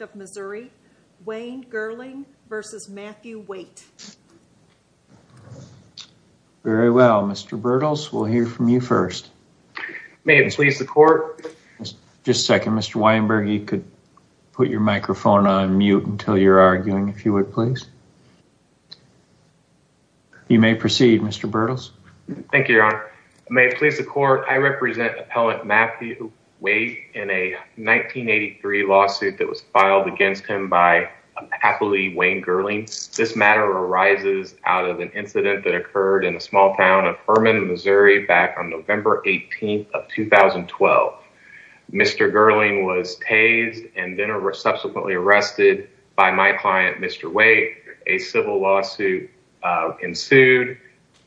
of Missouri, Wayne Gerling v. Matthew Waite. Very well, Mr. Bertels, we'll hear from you first. May it please the court. Just a second, Mr. Weinberg, you could put your microphone on mute until you're arguing, if you would please. You may proceed, Mr. Bertels. Thank you, Your Honor. May it please the court. I represent Appellant Matthew Waite in a 1983 lawsuit that was filed against him by a patholy Wayne Gerling. This matter arises out of an incident that occurred in a small town of Herman, Missouri, back on November 18th of 2012. Mr. Gerling was tased and then subsequently arrested by my client, Mr. Waite. A civil lawsuit ensued.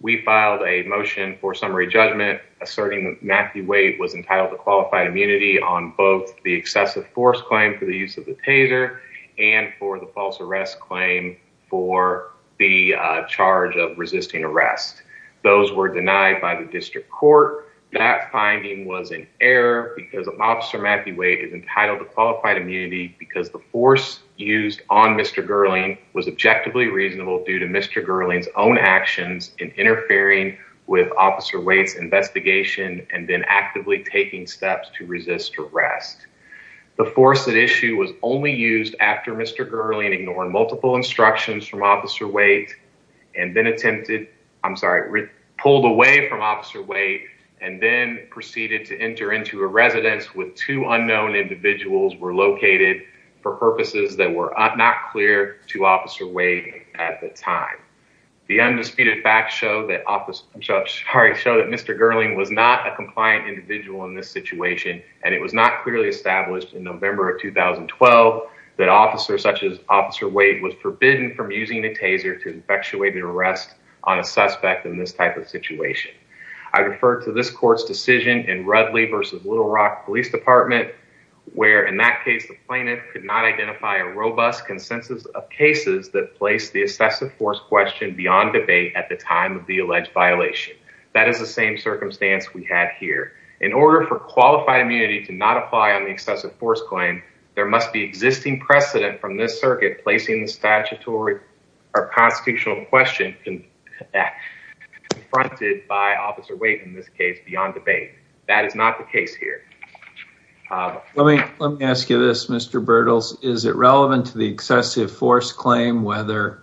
We filed a motion for summary judgment asserting that Matthew Waite was entitled to qualified immunity on both the excessive force claim for the use of the taser and for the false arrest claim for the charge of resisting arrest. Those were denied by the district court. That finding was an error because Officer Matthew Waite is entitled to qualified immunity because the force used on Mr. Gerling was objectively reasonable due to Mr. Gerling's own actions in interfering with Officer Waite's investigation and then actively taking steps to resist arrest. The force at issue was only used after Mr. Gerling ignored multiple instructions from Officer Waite and then attempted, I'm sorry, pulled away from Officer Waite and then proceeded to enter into a residence where two unknown individuals were located for purposes that were not clear to Officer Waite at the time. The undisputed facts show that Mr. Gerling was not a compliant individual in this situation and it was not clearly established in November of 2012 that officers such as Officer Waite was forbidden from using a taser to effectuate an arrest on a suspect in this type of situation. I refer to this court's decision in Rudley v. Little Rock Police Department where in that case the plaintiff could not identify a robust consensus of cases that placed the excessive force question beyond debate at the time of the alleged violation. That is the same circumstance we have here. In order for qualified immunity to not apply on the excessive force claim, there must be existing precedent from this circuit placing the statutory or constitutional question confronted by Officer Waite in this case beyond debate. That is not the case here. Let me ask you this, Mr. Bertels. Is it relevant to the excessive force claim whether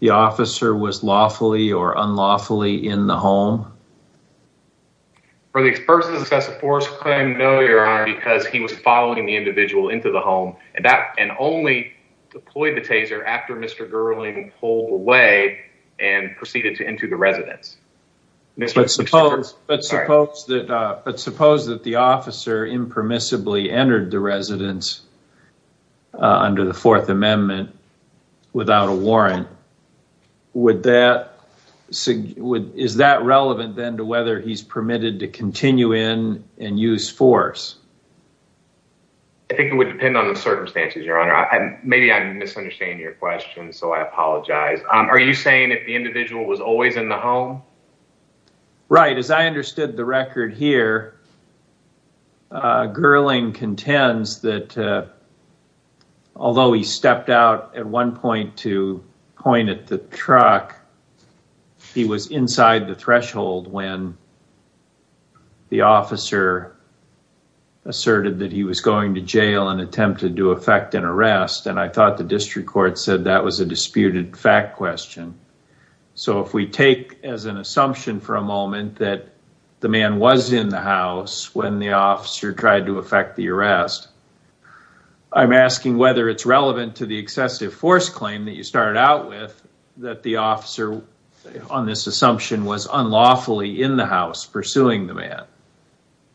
the officer was lawfully or unlawfully in the home? For the excessive force claim, no, Your Honor, because he was following the individual into the home and only deployed the taser after Mr. Gerling pulled away and proceeded into the residence. But suppose that the officer impermissibly entered the residence under the Fourth Amendment without a warrant. Is that relevant then to whether he's permitted to continue in and use force? I think it would depend on the circumstances, Your Honor. Maybe I'm misunderstanding your question, so I apologize. Are you saying that the individual was always in the home? Right. As I understood the record here, Gerling contends that although he stepped out at one point to point at the truck, he was inside the threshold when the officer asserted that he was going to jail and attempted to effect an arrest, and I thought the district court said that was a disputed fact question. So if we take as an assumption for a moment that the man was in the house when the officer tried to effect the arrest, I'm asking whether it's relevant to the excessive force claim that you started out with that the officer, on this assumption, was unlawfully in the house pursuing the man.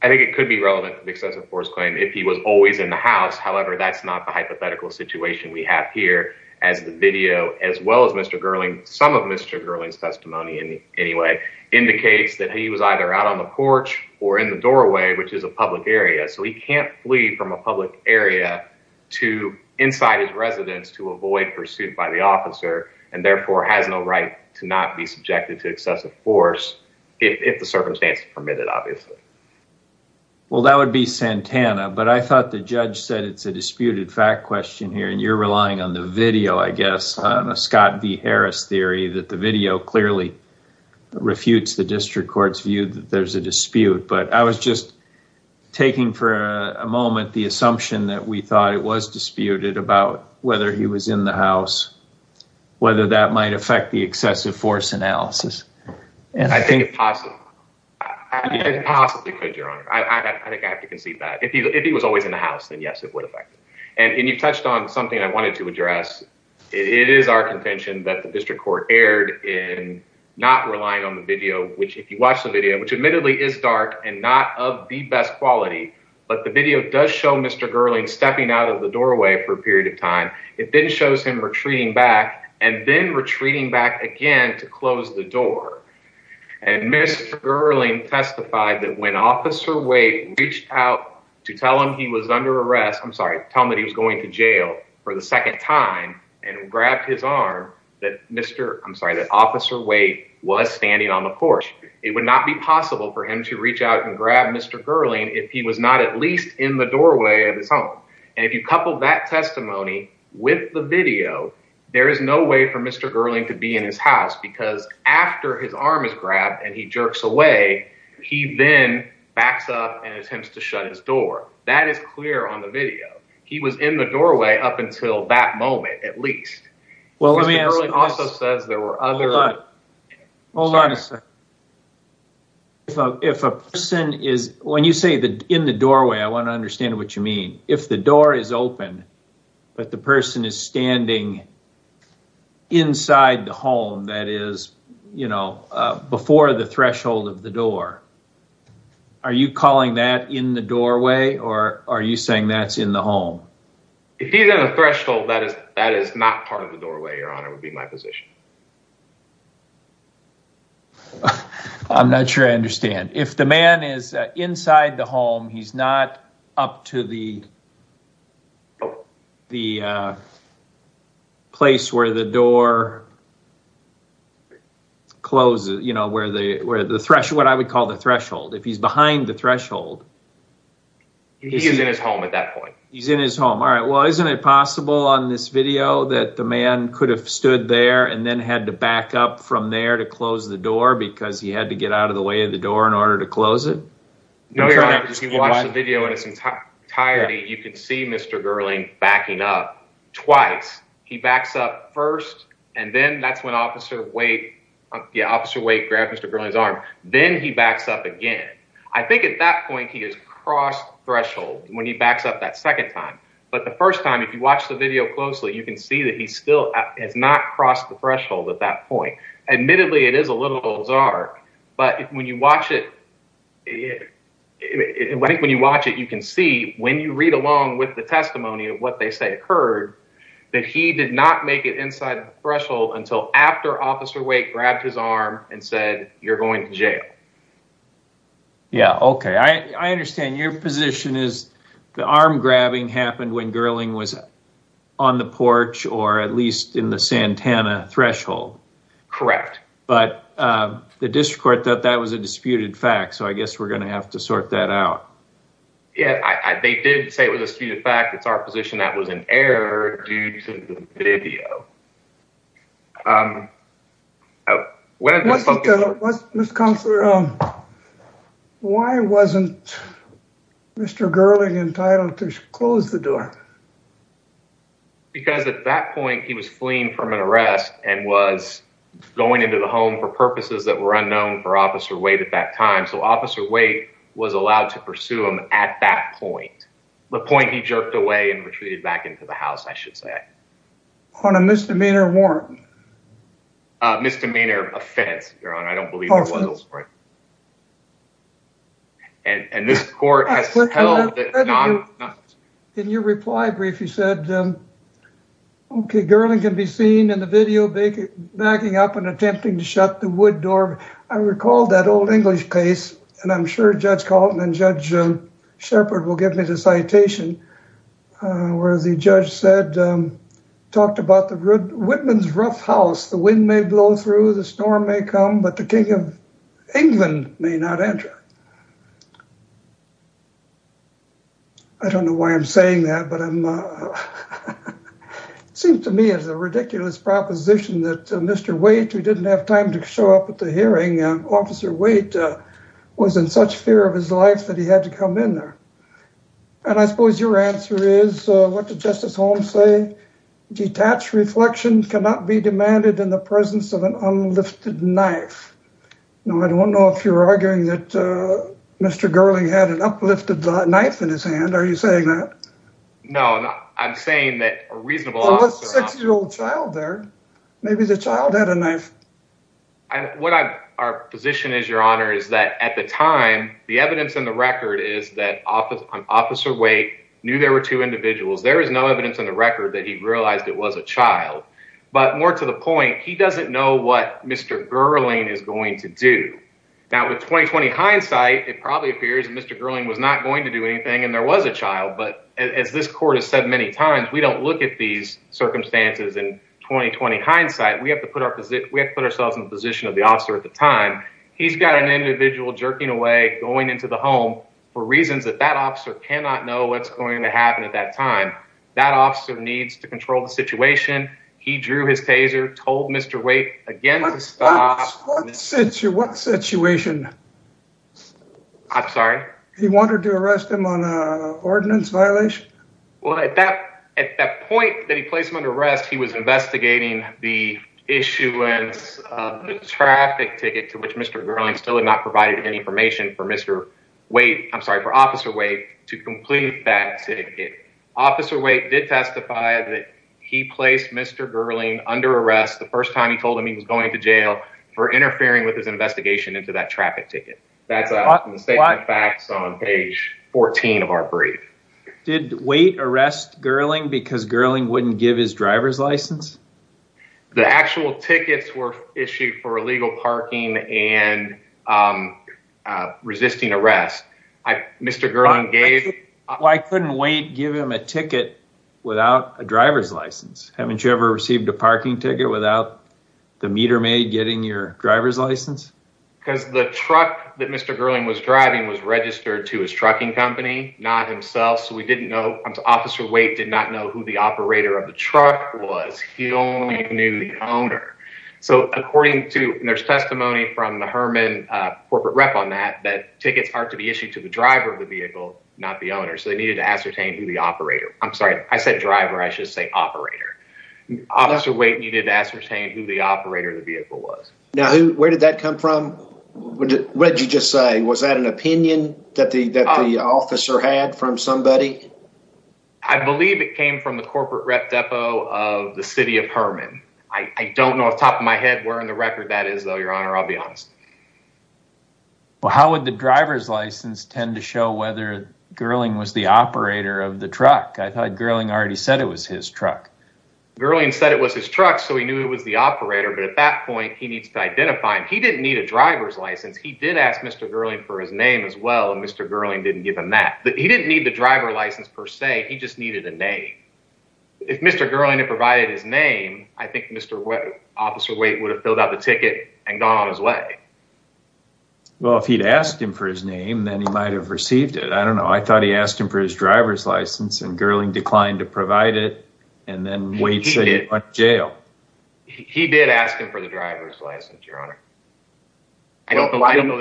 I think it could be relevant to the excessive force claim if he was always in the house. However, that's not the hypothetical situation we have here as the video, as well as Mr. Gerling, some of Mr. Gerling's testimony anyway, indicates that he was either out on the porch or in the doorway, which is a public area, so he can't flee from a public area to inside his residence to avoid pursuit by the officer and therefore has no right to not be subjected to excessive force if the circumstance permitted, obviously. Well, that would be Santana, but I thought the judge said it's a disputed fact question here, and you're relying on the video, I guess, on a Scott v. Harris theory, that the video clearly refutes the district court's view that there's a dispute. But I was just taking for a moment the assumption that we thought it was disputed about whether he was in the house, whether that might affect the excessive force analysis. I think it possibly could, Your Honor. I think I have to concede that. If he was always in the house, then yes, it would affect it. And you've touched on something I wanted to address. It is our contention that the district court erred in not relying on the video, which if you watch the video, which admittedly is dark and not of the best quality, but the video does show Mr. Gerling stepping out of the doorway for a period of time. It then shows him retreating back and then retreating back again to close the door. And Mr. Gerling testified that when Officer Waite reached out to tell him he was under arrest, I'm sorry, tell him that he was going to jail for the second time and grabbed his arm, that Officer Waite was standing on the porch. It would not be possible for him to reach out and grab Mr. Gerling if he was not at least in the doorway of his home. And if you couple that testimony with the video, there is no way for Mr. Gerling to be in his house because after his arm is grabbed and he jerks away, he then backs up and attempts to shut his door. That is clear on the video. He was in the doorway up until that moment, at least. Mr. Gerling also says there were other... Hold on a second. If a person is, when you say in the doorway, I want to understand what you mean. If the door is open, but the person is standing inside the home, that is, you know, before the threshold of the door, are you calling that in the doorway or are you saying that's in the home? If he's in the threshold, that is not part of the doorway, Your Honor, would be my position. I'm not sure I understand. If the man is inside the home, he's not up to the place where the door closes, you know, where the threshold, what I would call the threshold. If he's behind the threshold... He's in his home at that point. He's in his home, all right. Well, isn't it possible on this video that the man could have stood there and then had to back up from there to close the door because he had to get out of the way of the door in order to close it? No, Your Honor, if you watch the video in its entirety, you can see Mr. Gerling backing up twice. He backs up first and then that's when Officer Waite grabbed Mr. Gerling's arm. Then he backs up again. I think at that point he has crossed threshold when he backs up that second time. But the first time, if you watch the video closely, you can see that he still has not crossed the threshold at that point. Admittedly, it is a little bizarre, but when you watch it, you can see when you read along with the testimony of what they say occurred, that he did not make it inside the threshold until after Officer Waite grabbed his arm and said, you're going to jail. Yeah. Okay. I understand your position is the arm grabbing happened when Gerling was on the porch or at least in the Santana threshold. Correct. But the district court thought that was a disputed fact. So I guess we're going to have to sort that out. Yeah, they did say it was a disputed fact. It's our position that was in error due to the video. Mr. Counselor, why wasn't Mr. Gerling entitled to close the door? Because at that point he was fleeing from an arrest and was going into the home for purposes that were unknown for Officer Waite at that time. So Officer Waite was allowed to pursue him at that point. The point he jerked away and retreated back into the house, I should say. On a misdemeanor warrant. Misdemeanor offense, Your Honor. I don't believe there was one. And this court has held it not. In your reply brief, you said, okay, Gerling can be seen in the video backing up and attempting to shut the wood door. I recall that old English case. And I'm sure Judge Kaltman and Judge Shepard will give me the citation where the judge said, talked about the Whitman's rough house. The wind may blow through, the storm may come, but the King of England may not enter. I don't know why I'm saying that. It seems to me as a ridiculous proposition that Mr. Waite, who didn't have time to show up at the hearing, Officer Waite was in such fear of his life that he had to come in there. And I suppose your answer is, what did Justice Holmes say? Detached reflection cannot be demanded in the presence of an unlifted knife. Now, I don't know if you're arguing that Mr. Gerling had an uplifted knife in his hand. Are you saying that? No, I'm saying that a reasonable six-year-old child there, maybe the child had a knife. And what our position is, Your Honor, is that at the time, the evidence in the record is that Officer Waite knew there were two individuals. There is no evidence in the record that he realized it was a child. But more to the point, he doesn't know what Mr. Gerling is going to do. Now, with 20-20 hindsight, it probably appears that Mr. Gerling was not going to do anything and there was a child. But as this court has said many times, we don't look at these circumstances in 20-20 hindsight. We have to put ourselves in the position of the officer at the time. He's got an individual jerking away, going into the home for reasons that that officer cannot know what's going to happen at that time. That officer needs to control the situation. He drew his taser, told Mr. Waite again to stop. What situation? I'm sorry? He wanted to arrest him on an ordinance violation? Well, at that point that he placed him under arrest, he was investigating the issuance of a traffic ticket to which Mr. Gerling still had not provided any information for Mr. Waite. I'm sorry, for Officer Waite to complete that ticket. Officer Waite did testify that he placed Mr. Gerling under arrest the first time he told him he was going to jail for interfering with his investigation into that traffic ticket. That's a statement of facts on page 14 of our brief. Did Waite arrest Gerling because Gerling wouldn't give his driver's license? The actual tickets were issued for illegal parking and resisting arrest. Why couldn't Waite give him a ticket without a driver's license? Haven't you ever received a parking ticket without the meter maid getting your driver's license? Because the truck that Mr. Gerling was driving was registered to his trucking company, not himself. So Officer Waite did not know who the operator of the truck was. He only knew the owner. So according to there's testimony from the Herman corporate rep on that, that tickets are to be issued to the driver of the vehicle, not the owner. So they needed to ascertain who the operator. I'm sorry, I said driver. I should say operator. Officer Waite needed to ascertain who the operator of the vehicle was. Now, where did that come from? What did you just say? Was that an opinion that the officer had from somebody? I believe it came from the corporate rep depot of the city of Herman. I don't know off the top of my head where in the record that is, though, Your Honor. I'll be honest. Well, how would the driver's license tend to show whether Gerling was the operator of the truck? I thought Gerling already said it was his truck. Gerling said it was his truck, so he knew it was the operator. But at that point, he needs to identify him. He didn't need a driver's license. He did ask Mr. Gerling for his name as well, and Mr. Gerling didn't give him that. He didn't need the driver license per se. He just needed a name. If Mr. Gerling had provided his name, I think Mr. Officer Waite would have filled out the ticket and gone on his way. Well, if he'd asked him for his name, then he might have received it. I don't know. I thought he asked him for his driver's license, and Gerling declined to provide it, and then Waite said he went to jail. He did ask him for the driver's license, Your Honor. I don't know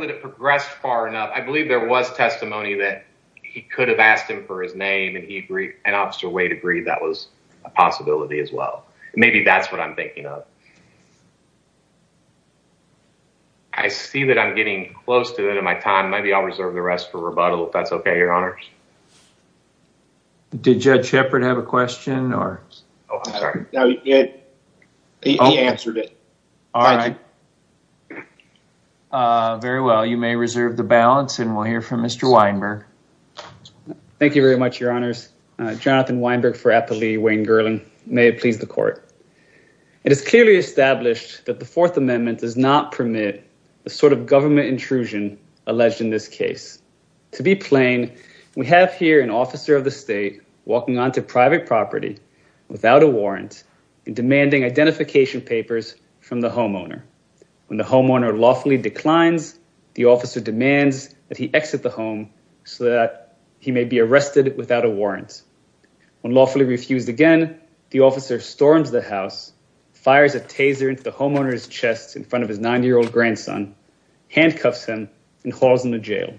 that it progressed far enough. I believe there was testimony that he could have asked him for his name, and Officer Waite agreed that was a possibility as well. Maybe that's what I'm thinking of. I see that I'm getting close to the end of my time. Maybe I'll reserve the rest for rebuttal, if that's okay, Your Honor. Did Judge Shepard have a question? Oh, I'm sorry. He answered it. All right. Very well. You may reserve the balance, and we'll hear from Mr. Weinberg. Thank you very much, Your Honors. Jonathan Weinberg for Applee, Wayne Gerling. May it please the Court. It is clearly established that the Fourth Amendment does not permit the sort of government intrusion alleged in this case. To be plain, we have here an officer of the state walking onto private property without a warrant and demanding identification papers from the homeowner. When the homeowner lawfully declines, the officer demands that he exit the home so that he may be arrested without a warrant. When lawfully refused again, the officer storms the house, fires a taser into the homeowner's chest in front of his 90-year-old grandson, handcuffs him, and hauls him to jail.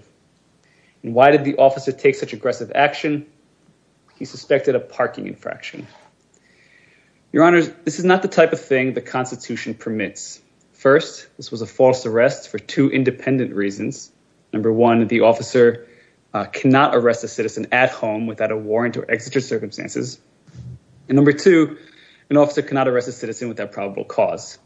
And why did the officer take such aggressive action? He suspected a parking infraction. Your Honors, this is not the type of thing the Constitution permits. First, this was a false arrest for two independent reasons. Number one, the officer cannot arrest a citizen at home without a warrant or exited circumstances. And number two, an officer cannot arrest a citizen without probable cause.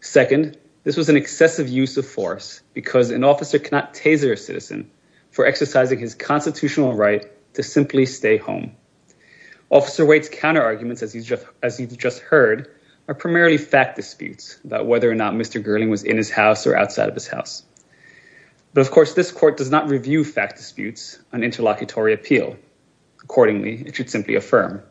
Second, this was an excessive use of force because an officer cannot taser a citizen for exercising his constitutional right to simply stay home. Officer Waite's counterarguments, as you just heard, are primarily fact disputes about whether or not Mr. Gerling was in his house or outside of his house. But of course, this court does not review fact disputes on interlocutory appeal. Accordingly, it should simply affirm.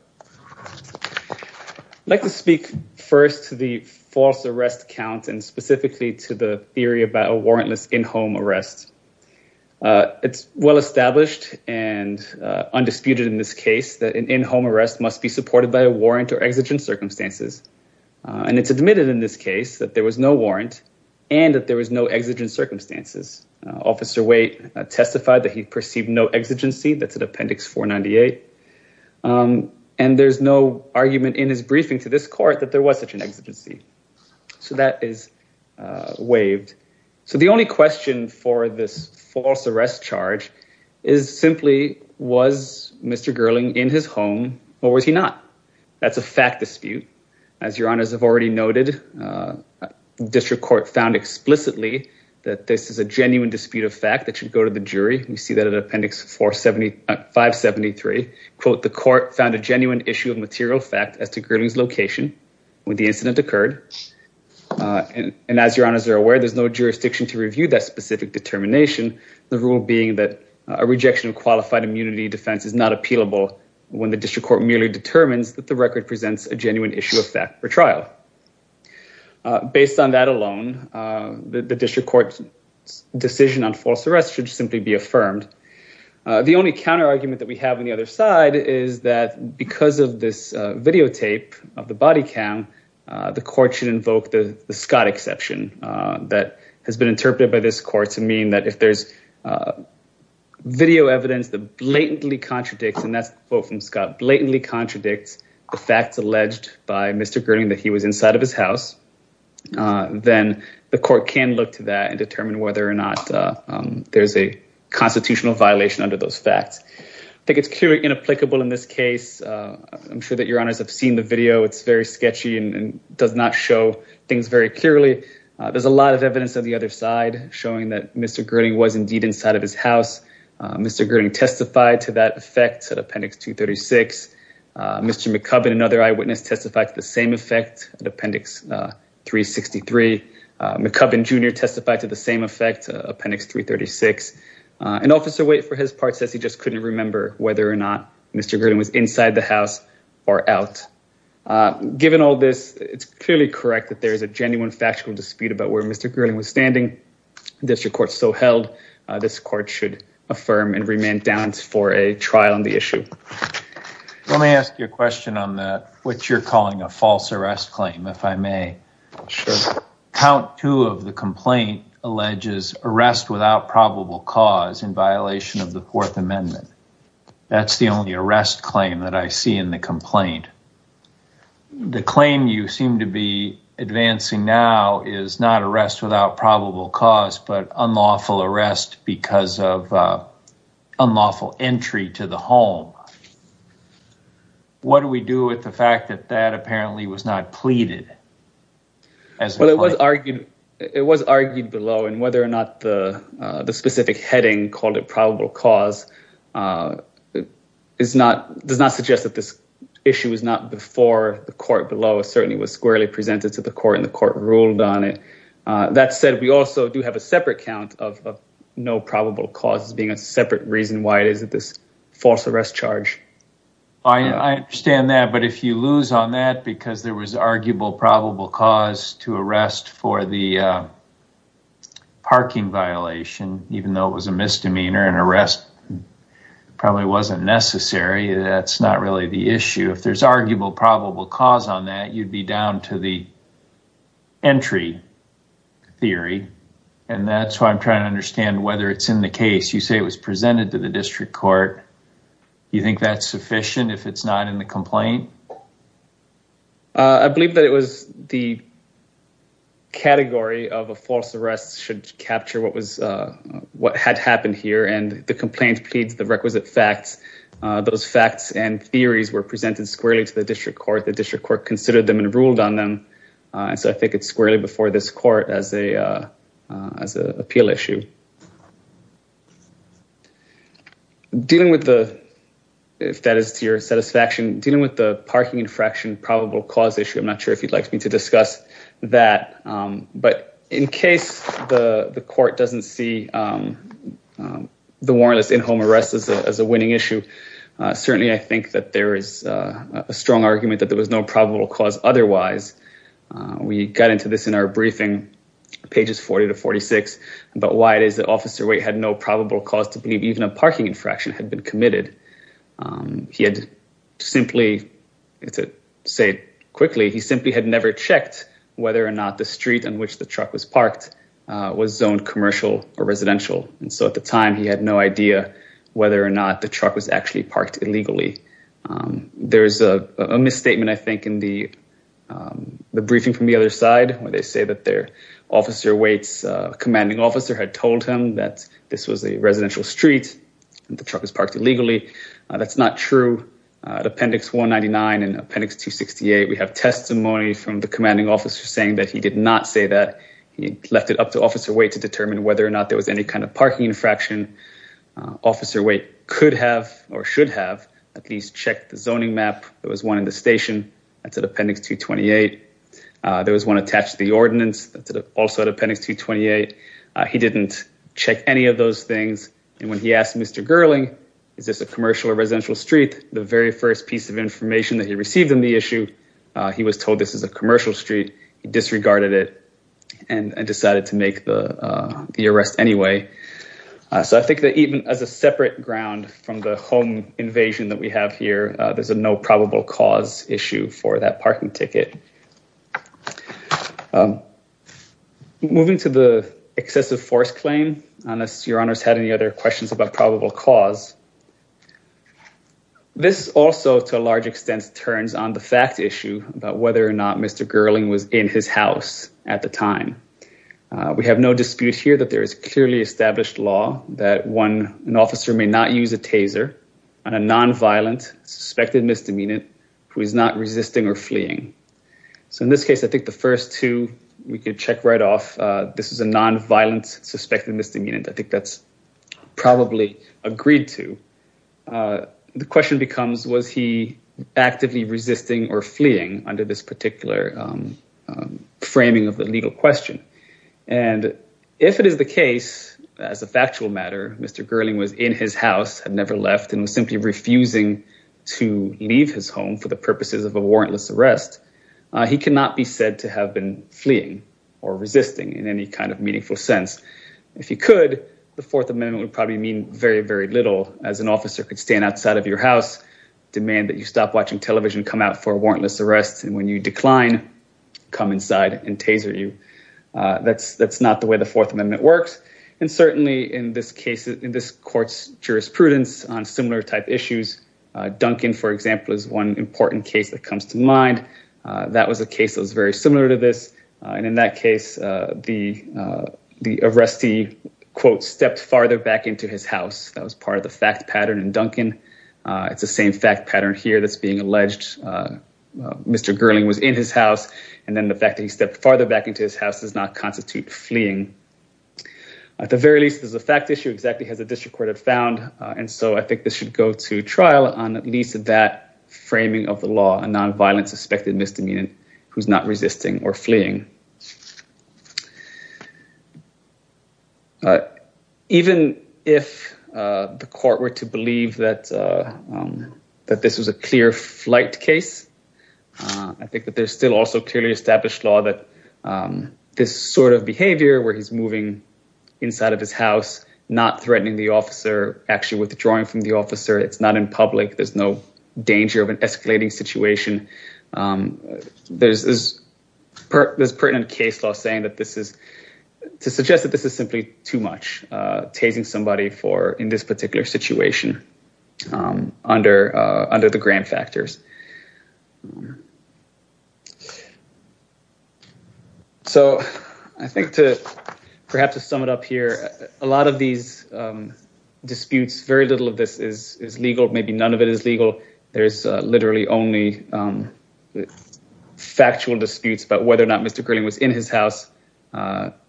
I'd like to speak first to the false arrest count and specifically to the theory about a warrantless in-home arrest. It's well established and undisputed in this case that an in-home arrest must be supported by a warrant or exigent circumstances. And it's admitted in this case that there was no warrant and that there was no exigent circumstances. Officer Waite testified that he perceived no exigency. That's an Appendix 498. And there's no argument in his briefing to this court that there was such an exigency. So that is waived. So the only question for this false arrest charge is simply was Mr. Gerling in his home or was he not? That's a fact dispute. As your honors have already noted, district court found explicitly that this is a genuine dispute of fact that should go to the jury. We see that in Appendix 573. Quote, the court found a genuine issue of material fact as to Gerling's location when the incident occurred. And as your honors are aware, there's no jurisdiction to review that specific determination. The rule being that a rejection of qualified immunity defense is not appealable when the district court merely determines that the record presents a genuine issue of fact for trial. Based on that alone, the district court's decision on false arrest should simply be affirmed. The only counter argument that we have on the other side is that because of this videotape of the body cam, the court should invoke the Scott exception that has been interpreted by this court to mean that if there's video evidence that blatantly contradicts and that's the quote from Scott, blatantly contradicts the facts alleged by Mr. Gerling that he was inside of his house. Then the court can look to that and determine whether or not there's a constitutional violation under those facts. I think it's clearly inapplicable in this case. I'm sure that your honors have seen the video. It's very sketchy and does not show things very clearly. There's a lot of evidence on the other side showing that Mr. Gerling was indeed inside of his house. Mr. Gerling testified to that effect at Appendix 236. Mr. McCubbin, another eyewitness, testified to the same effect at Appendix 363. McCubbin Jr. testified to the same effect, Appendix 336. An officer waiting for his part says he just couldn't remember whether or not Mr. Gerling was inside the house or out. Given all this, it's clearly correct that there is a genuine factual dispute about where Mr. Gerling was standing. The district court so held, this court should affirm and remain balanced for a trial on the issue. Let me ask you a question on that, what you're calling a false arrest claim, if I may. Sure. Count two of the complaint alleges arrest without probable cause in violation of the Fourth Amendment. That's the only arrest claim that I see in the complaint. The claim you seem to be advancing now is not arrest without probable cause, but unlawful arrest because of unlawful entry to the home. What do we do with the fact that that apparently was not pleaded? It was argued below and whether or not the specific heading called it probable cause does not suggest that this issue was not before the court below. It certainly was squarely presented to the court and the court ruled on it. That said, we also do have a separate count of no probable cause as being a separate reason why it is that this false arrest charge. I understand that, but if you lose on that because there was arguable probable cause to arrest for the parking violation, even though it was a misdemeanor and arrest probably wasn't necessary, that's not really the issue. If there's arguable probable cause on that, you'd be down to the entry theory. And that's why I'm trying to understand whether it's in the case. You say it was presented to the district court. You think that's sufficient if it's not in the complaint? I believe that it was the category of a false arrest should capture what had happened here and the complaint pleads the requisite facts. Those facts and theories were presented squarely to the district court. The district court considered them and ruled on them. So I think it's squarely before this court as an appeal issue. Dealing with the, if that is to your satisfaction, dealing with the parking infraction probable cause issue, I'm not sure if you'd like me to discuss that. But in case the court doesn't see the warrantless in-home arrest as a winning issue, certainly I think that there is a strong argument that there was no probable cause otherwise. We got into this in our briefing, pages 40 to 46, about why it is that Officer Waite had no probable cause to believe even a parking infraction had been committed. He had simply, to say it quickly, he simply had never checked whether or not the street on which the truck was parked was zoned commercial or residential. And so at the time, he had no idea whether or not the truck was actually parked illegally. There is a misstatement, I think, in the briefing from the other side where they say that their Officer Waite's commanding officer had told him that this was a residential street and the truck was parked illegally. That's not true. At Appendix 199 and Appendix 268, we have testimony from the commanding officer saying that he did not say that. He left it up to Officer Waite to determine whether or not there was any kind of parking infraction. Officer Waite could have, or should have, at least checked the zoning map. There was one in the station. That's at Appendix 228. There was one attached to the ordinance. That's also at Appendix 228. He didn't check any of those things. And when he asked Mr. Gerling, is this a commercial or residential street, the very first piece of information that he received on the issue, he was told this is a commercial street. He disregarded it and decided to make the arrest anyway. So I think that even as a separate ground from the home invasion that we have here, there's a no probable cause issue for that parking ticket. Moving to the excessive force claim, unless your honors had any other questions about probable cause. This also, to a large extent, turns on the fact issue about whether or not Mr. Gerling was in his house at the time. We have no dispute here that there is clearly established law that when an officer may not use a taser on a nonviolent suspected misdemeanant who is not resisting or fleeing. So in this case, I think the first two we could check right off. This is a nonviolent suspected misdemeanant. I think that's probably agreed to. The question becomes, was he actively resisting or fleeing under this particular framing of the legal question? And if it is the case, as a factual matter, Mr. Gerling was in his house, had never left and was simply refusing to leave his home for the purposes of a warrantless arrest. He cannot be said to have been fleeing or resisting in any kind of meaningful sense. If he could, the Fourth Amendment would probably mean very, very little as an officer could stand outside of your house, demand that you stop watching television, come out for a warrantless arrest. And when you decline, come inside and taser you. That's that's not the way the Fourth Amendment works. And certainly in this case, in this court's jurisprudence on similar type issues, Duncan, for example, is one important case that comes to mind. That was a case that was very similar to this. And in that case, the the arrestee, quote, stepped farther back into his house. That was part of the fact pattern. And Duncan, it's the same fact pattern here that's being alleged. Mr. Gerling was in his house. And then the fact that he stepped farther back into his house does not constitute fleeing. At the very least, this is a fact issue exactly as the district court had found. And so I think this should go to trial on at least that framing of the law, a nonviolent suspected misdemeanor who's not resisting or fleeing. Even if the court were to believe that that this was a clear flight case, I think that there's still also clearly established law that this sort of behavior where he's moving inside of his house, not threatening the officer, actually withdrawing from the officer. It's not in public. There's no danger of an escalating situation. There's pertinent case law saying that this is to suggest that this is simply too much. Tasing somebody for in this particular situation under the grant factors. So I think to perhaps to sum it up here, a lot of these disputes, very little of this is legal. Maybe none of it is legal. There's literally only factual disputes about whether or not Mr. Gerling was in his house.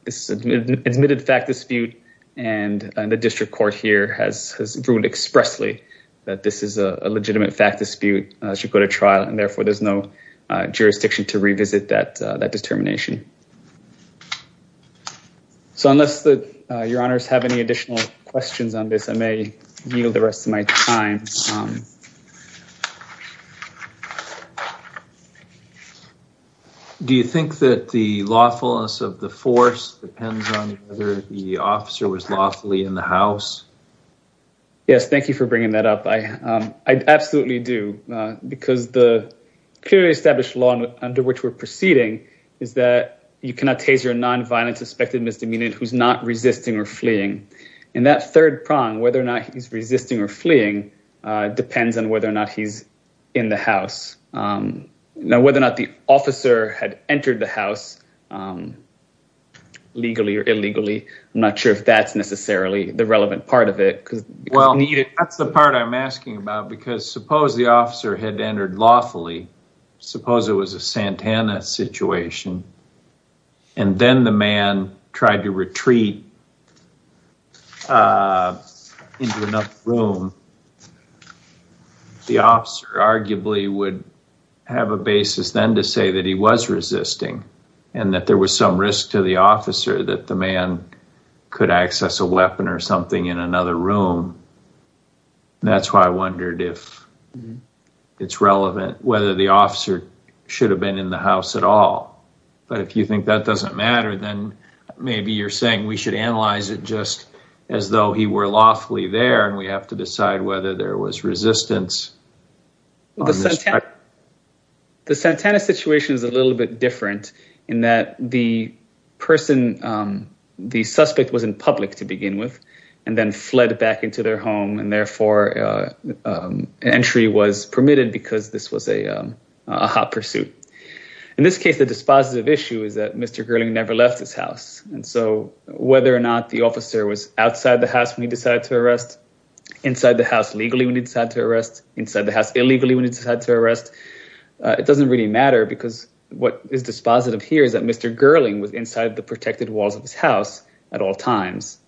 It's an admitted fact dispute. And the district court here has ruled expressly that this is a legitimate fact dispute should go to trial. And therefore, there's no jurisdiction to revisit that determination. So unless your honors have any additional questions on this, I may yield the rest of my time. Thank you. Do you think that the lawfulness of the force depends on whether the officer was lawfully in the house? Yes. Thank you for bringing that up. I absolutely do. Because the clearly established law under which we're proceeding is that you cannot tase your nonviolent suspected misdemeanor who's not resisting or fleeing. And that third prong, whether or not he's resisting or fleeing, depends on whether or not he's in the house. Now, whether or not the officer had entered the house legally or illegally, I'm not sure if that's necessarily the relevant part of it. That's the part I'm asking about. Because suppose the officer had entered lawfully. Suppose it was a Santana situation. And then the man tried to retreat into another room. The officer arguably would have a basis then to say that he was resisting. And that there was some risk to the officer that the man could access a weapon or something in another room. That's why I wondered if it's relevant whether the officer should have been in the house at all. But if you think that doesn't matter, then maybe you're saying we should analyze it just as though he were lawfully there and we have to decide whether there was resistance. The Santana situation is a little bit different in that the person, the suspect, was in public to begin with and then fled back into their home. And therefore, entry was permitted because this was a hot pursuit. In this case, the dispositive issue is that Mr. Gerling never left his house. And so whether or not the officer was outside the house when he decided to arrest, inside the house legally when he decided to arrest, inside the house illegally when he decided to arrest. It doesn't really matter because what is dispositive here is that Mr. Gerling was inside the protected walls of his house at all times.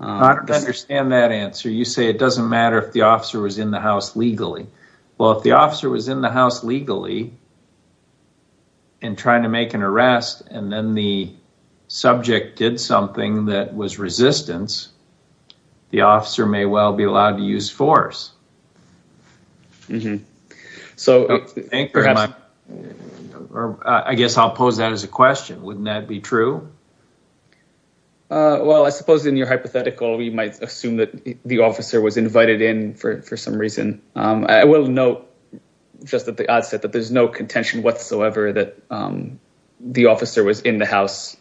I don't understand that answer. You say it doesn't matter if the officer was in the house legally. Well, if the officer was in the house legally and trying to make an arrest and then the subject did something that was resistance, the officer may well be allowed to use force. I guess I'll pose that as a question. Wouldn't that be true? Well, I suppose in your hypothetical, we might assume that the officer was invited in for some reason. I will note just at the outset that there's no contention whatsoever that the officer was in the house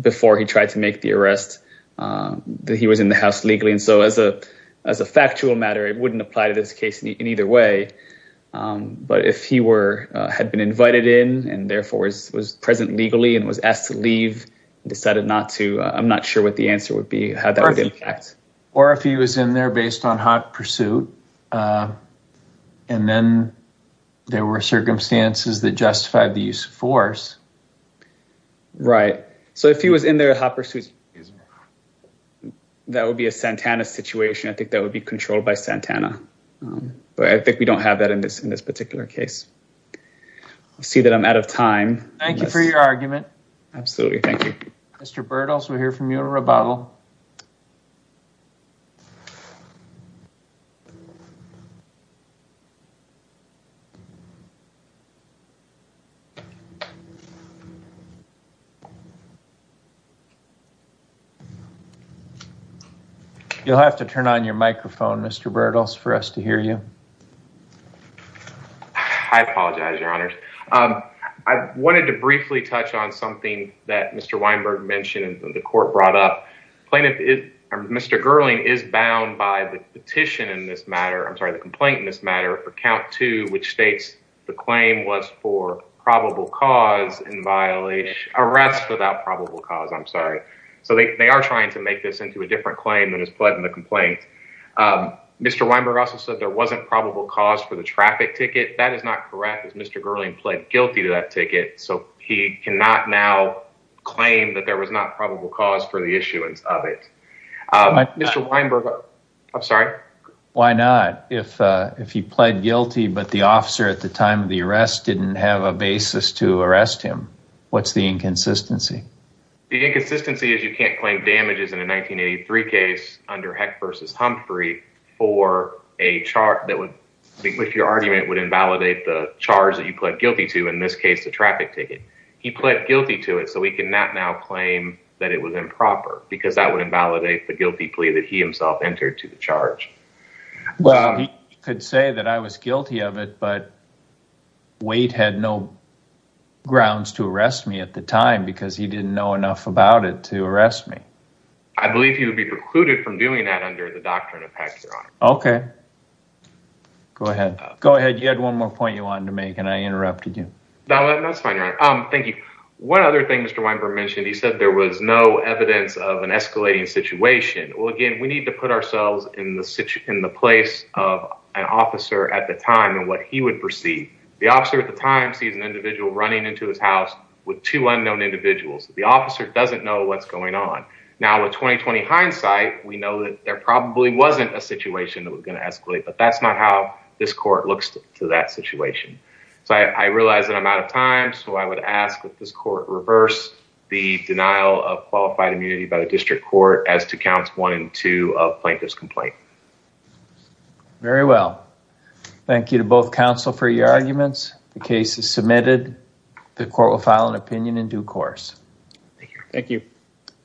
before he tried to make the arrest, that he was in the house legally. And so as a factual matter, it wouldn't apply to this case in either way. But if he had been invited in and therefore was present legally and was asked to leave and decided not to, I'm not sure what the answer would be, how that would impact. Or if he was in there based on hot pursuit and then there were circumstances that justified the use of force. Right. So if he was in there hot pursuit, that would be a Santana situation. I think that would be controlled by Santana. But I think we don't have that in this particular case. I see that I'm out of time. Thank you for your argument. Absolutely. Thank you. Mr. Bertels, we hear from you a rebuttal. You'll have to turn on your microphone, Mr. Bertels, for us to hear you. I apologize, Your Honors. I wanted to briefly touch on something that Mr. Weinberg mentioned that the court brought up. Mr. Gerling is bound by the petition in this matter, I'm sorry, the complaint in this matter, for count two, which states the claim was for probable cause and violation. Arrest without probable cause, I'm sorry. So they are trying to make this into a different claim than is pled in the complaint. Mr. Weinberg also said there wasn't probable cause for the traffic ticket. That is not correct, as Mr. Gerling pled guilty to that ticket. So he cannot now claim that there was not probable cause for the issuance of it. Mr. Weinberg, I'm sorry. Why not? If he pled guilty, but the officer at the time of the arrest didn't have a basis to arrest him, what's the inconsistency? The inconsistency is you can't claim damages in a 1983 case under Heck v. Humphrey for a charge that would, with your argument, would invalidate the charge that you pled guilty to, in this case, the traffic ticket. He pled guilty to it, so he cannot now claim that it was improper, because that would invalidate the guilty plea that he himself entered to the charge. He could say that I was guilty of it, but Wade had no grounds to arrest me at the time, because he didn't know enough about it to arrest me. I believe he would be precluded from doing that under the doctrine of Heck, Your Honor. Okay. Go ahead. You had one more point you wanted to make, and I interrupted you. No, that's fine, Your Honor. Thank you. One other thing Mr. Weinberg mentioned, he said there was no evidence of an escalating situation. Well, again, we need to put ourselves in the place of an officer at the time and what he would perceive. The officer at the time sees an individual running into his house with two unknown individuals. The officer doesn't know what's going on. Now, with 20-20 hindsight, we know that there probably wasn't a situation that was going to escalate, but that's not how this court looks to that situation. I realize that I'm out of time, so I would ask that this court reverse the denial of qualified immunity by the district court as to counts one and two of plaintiff's complaint. Very well. Thank you to both counsel for your arguments. The case is submitted. The court will file an opinion in due course. Thank you.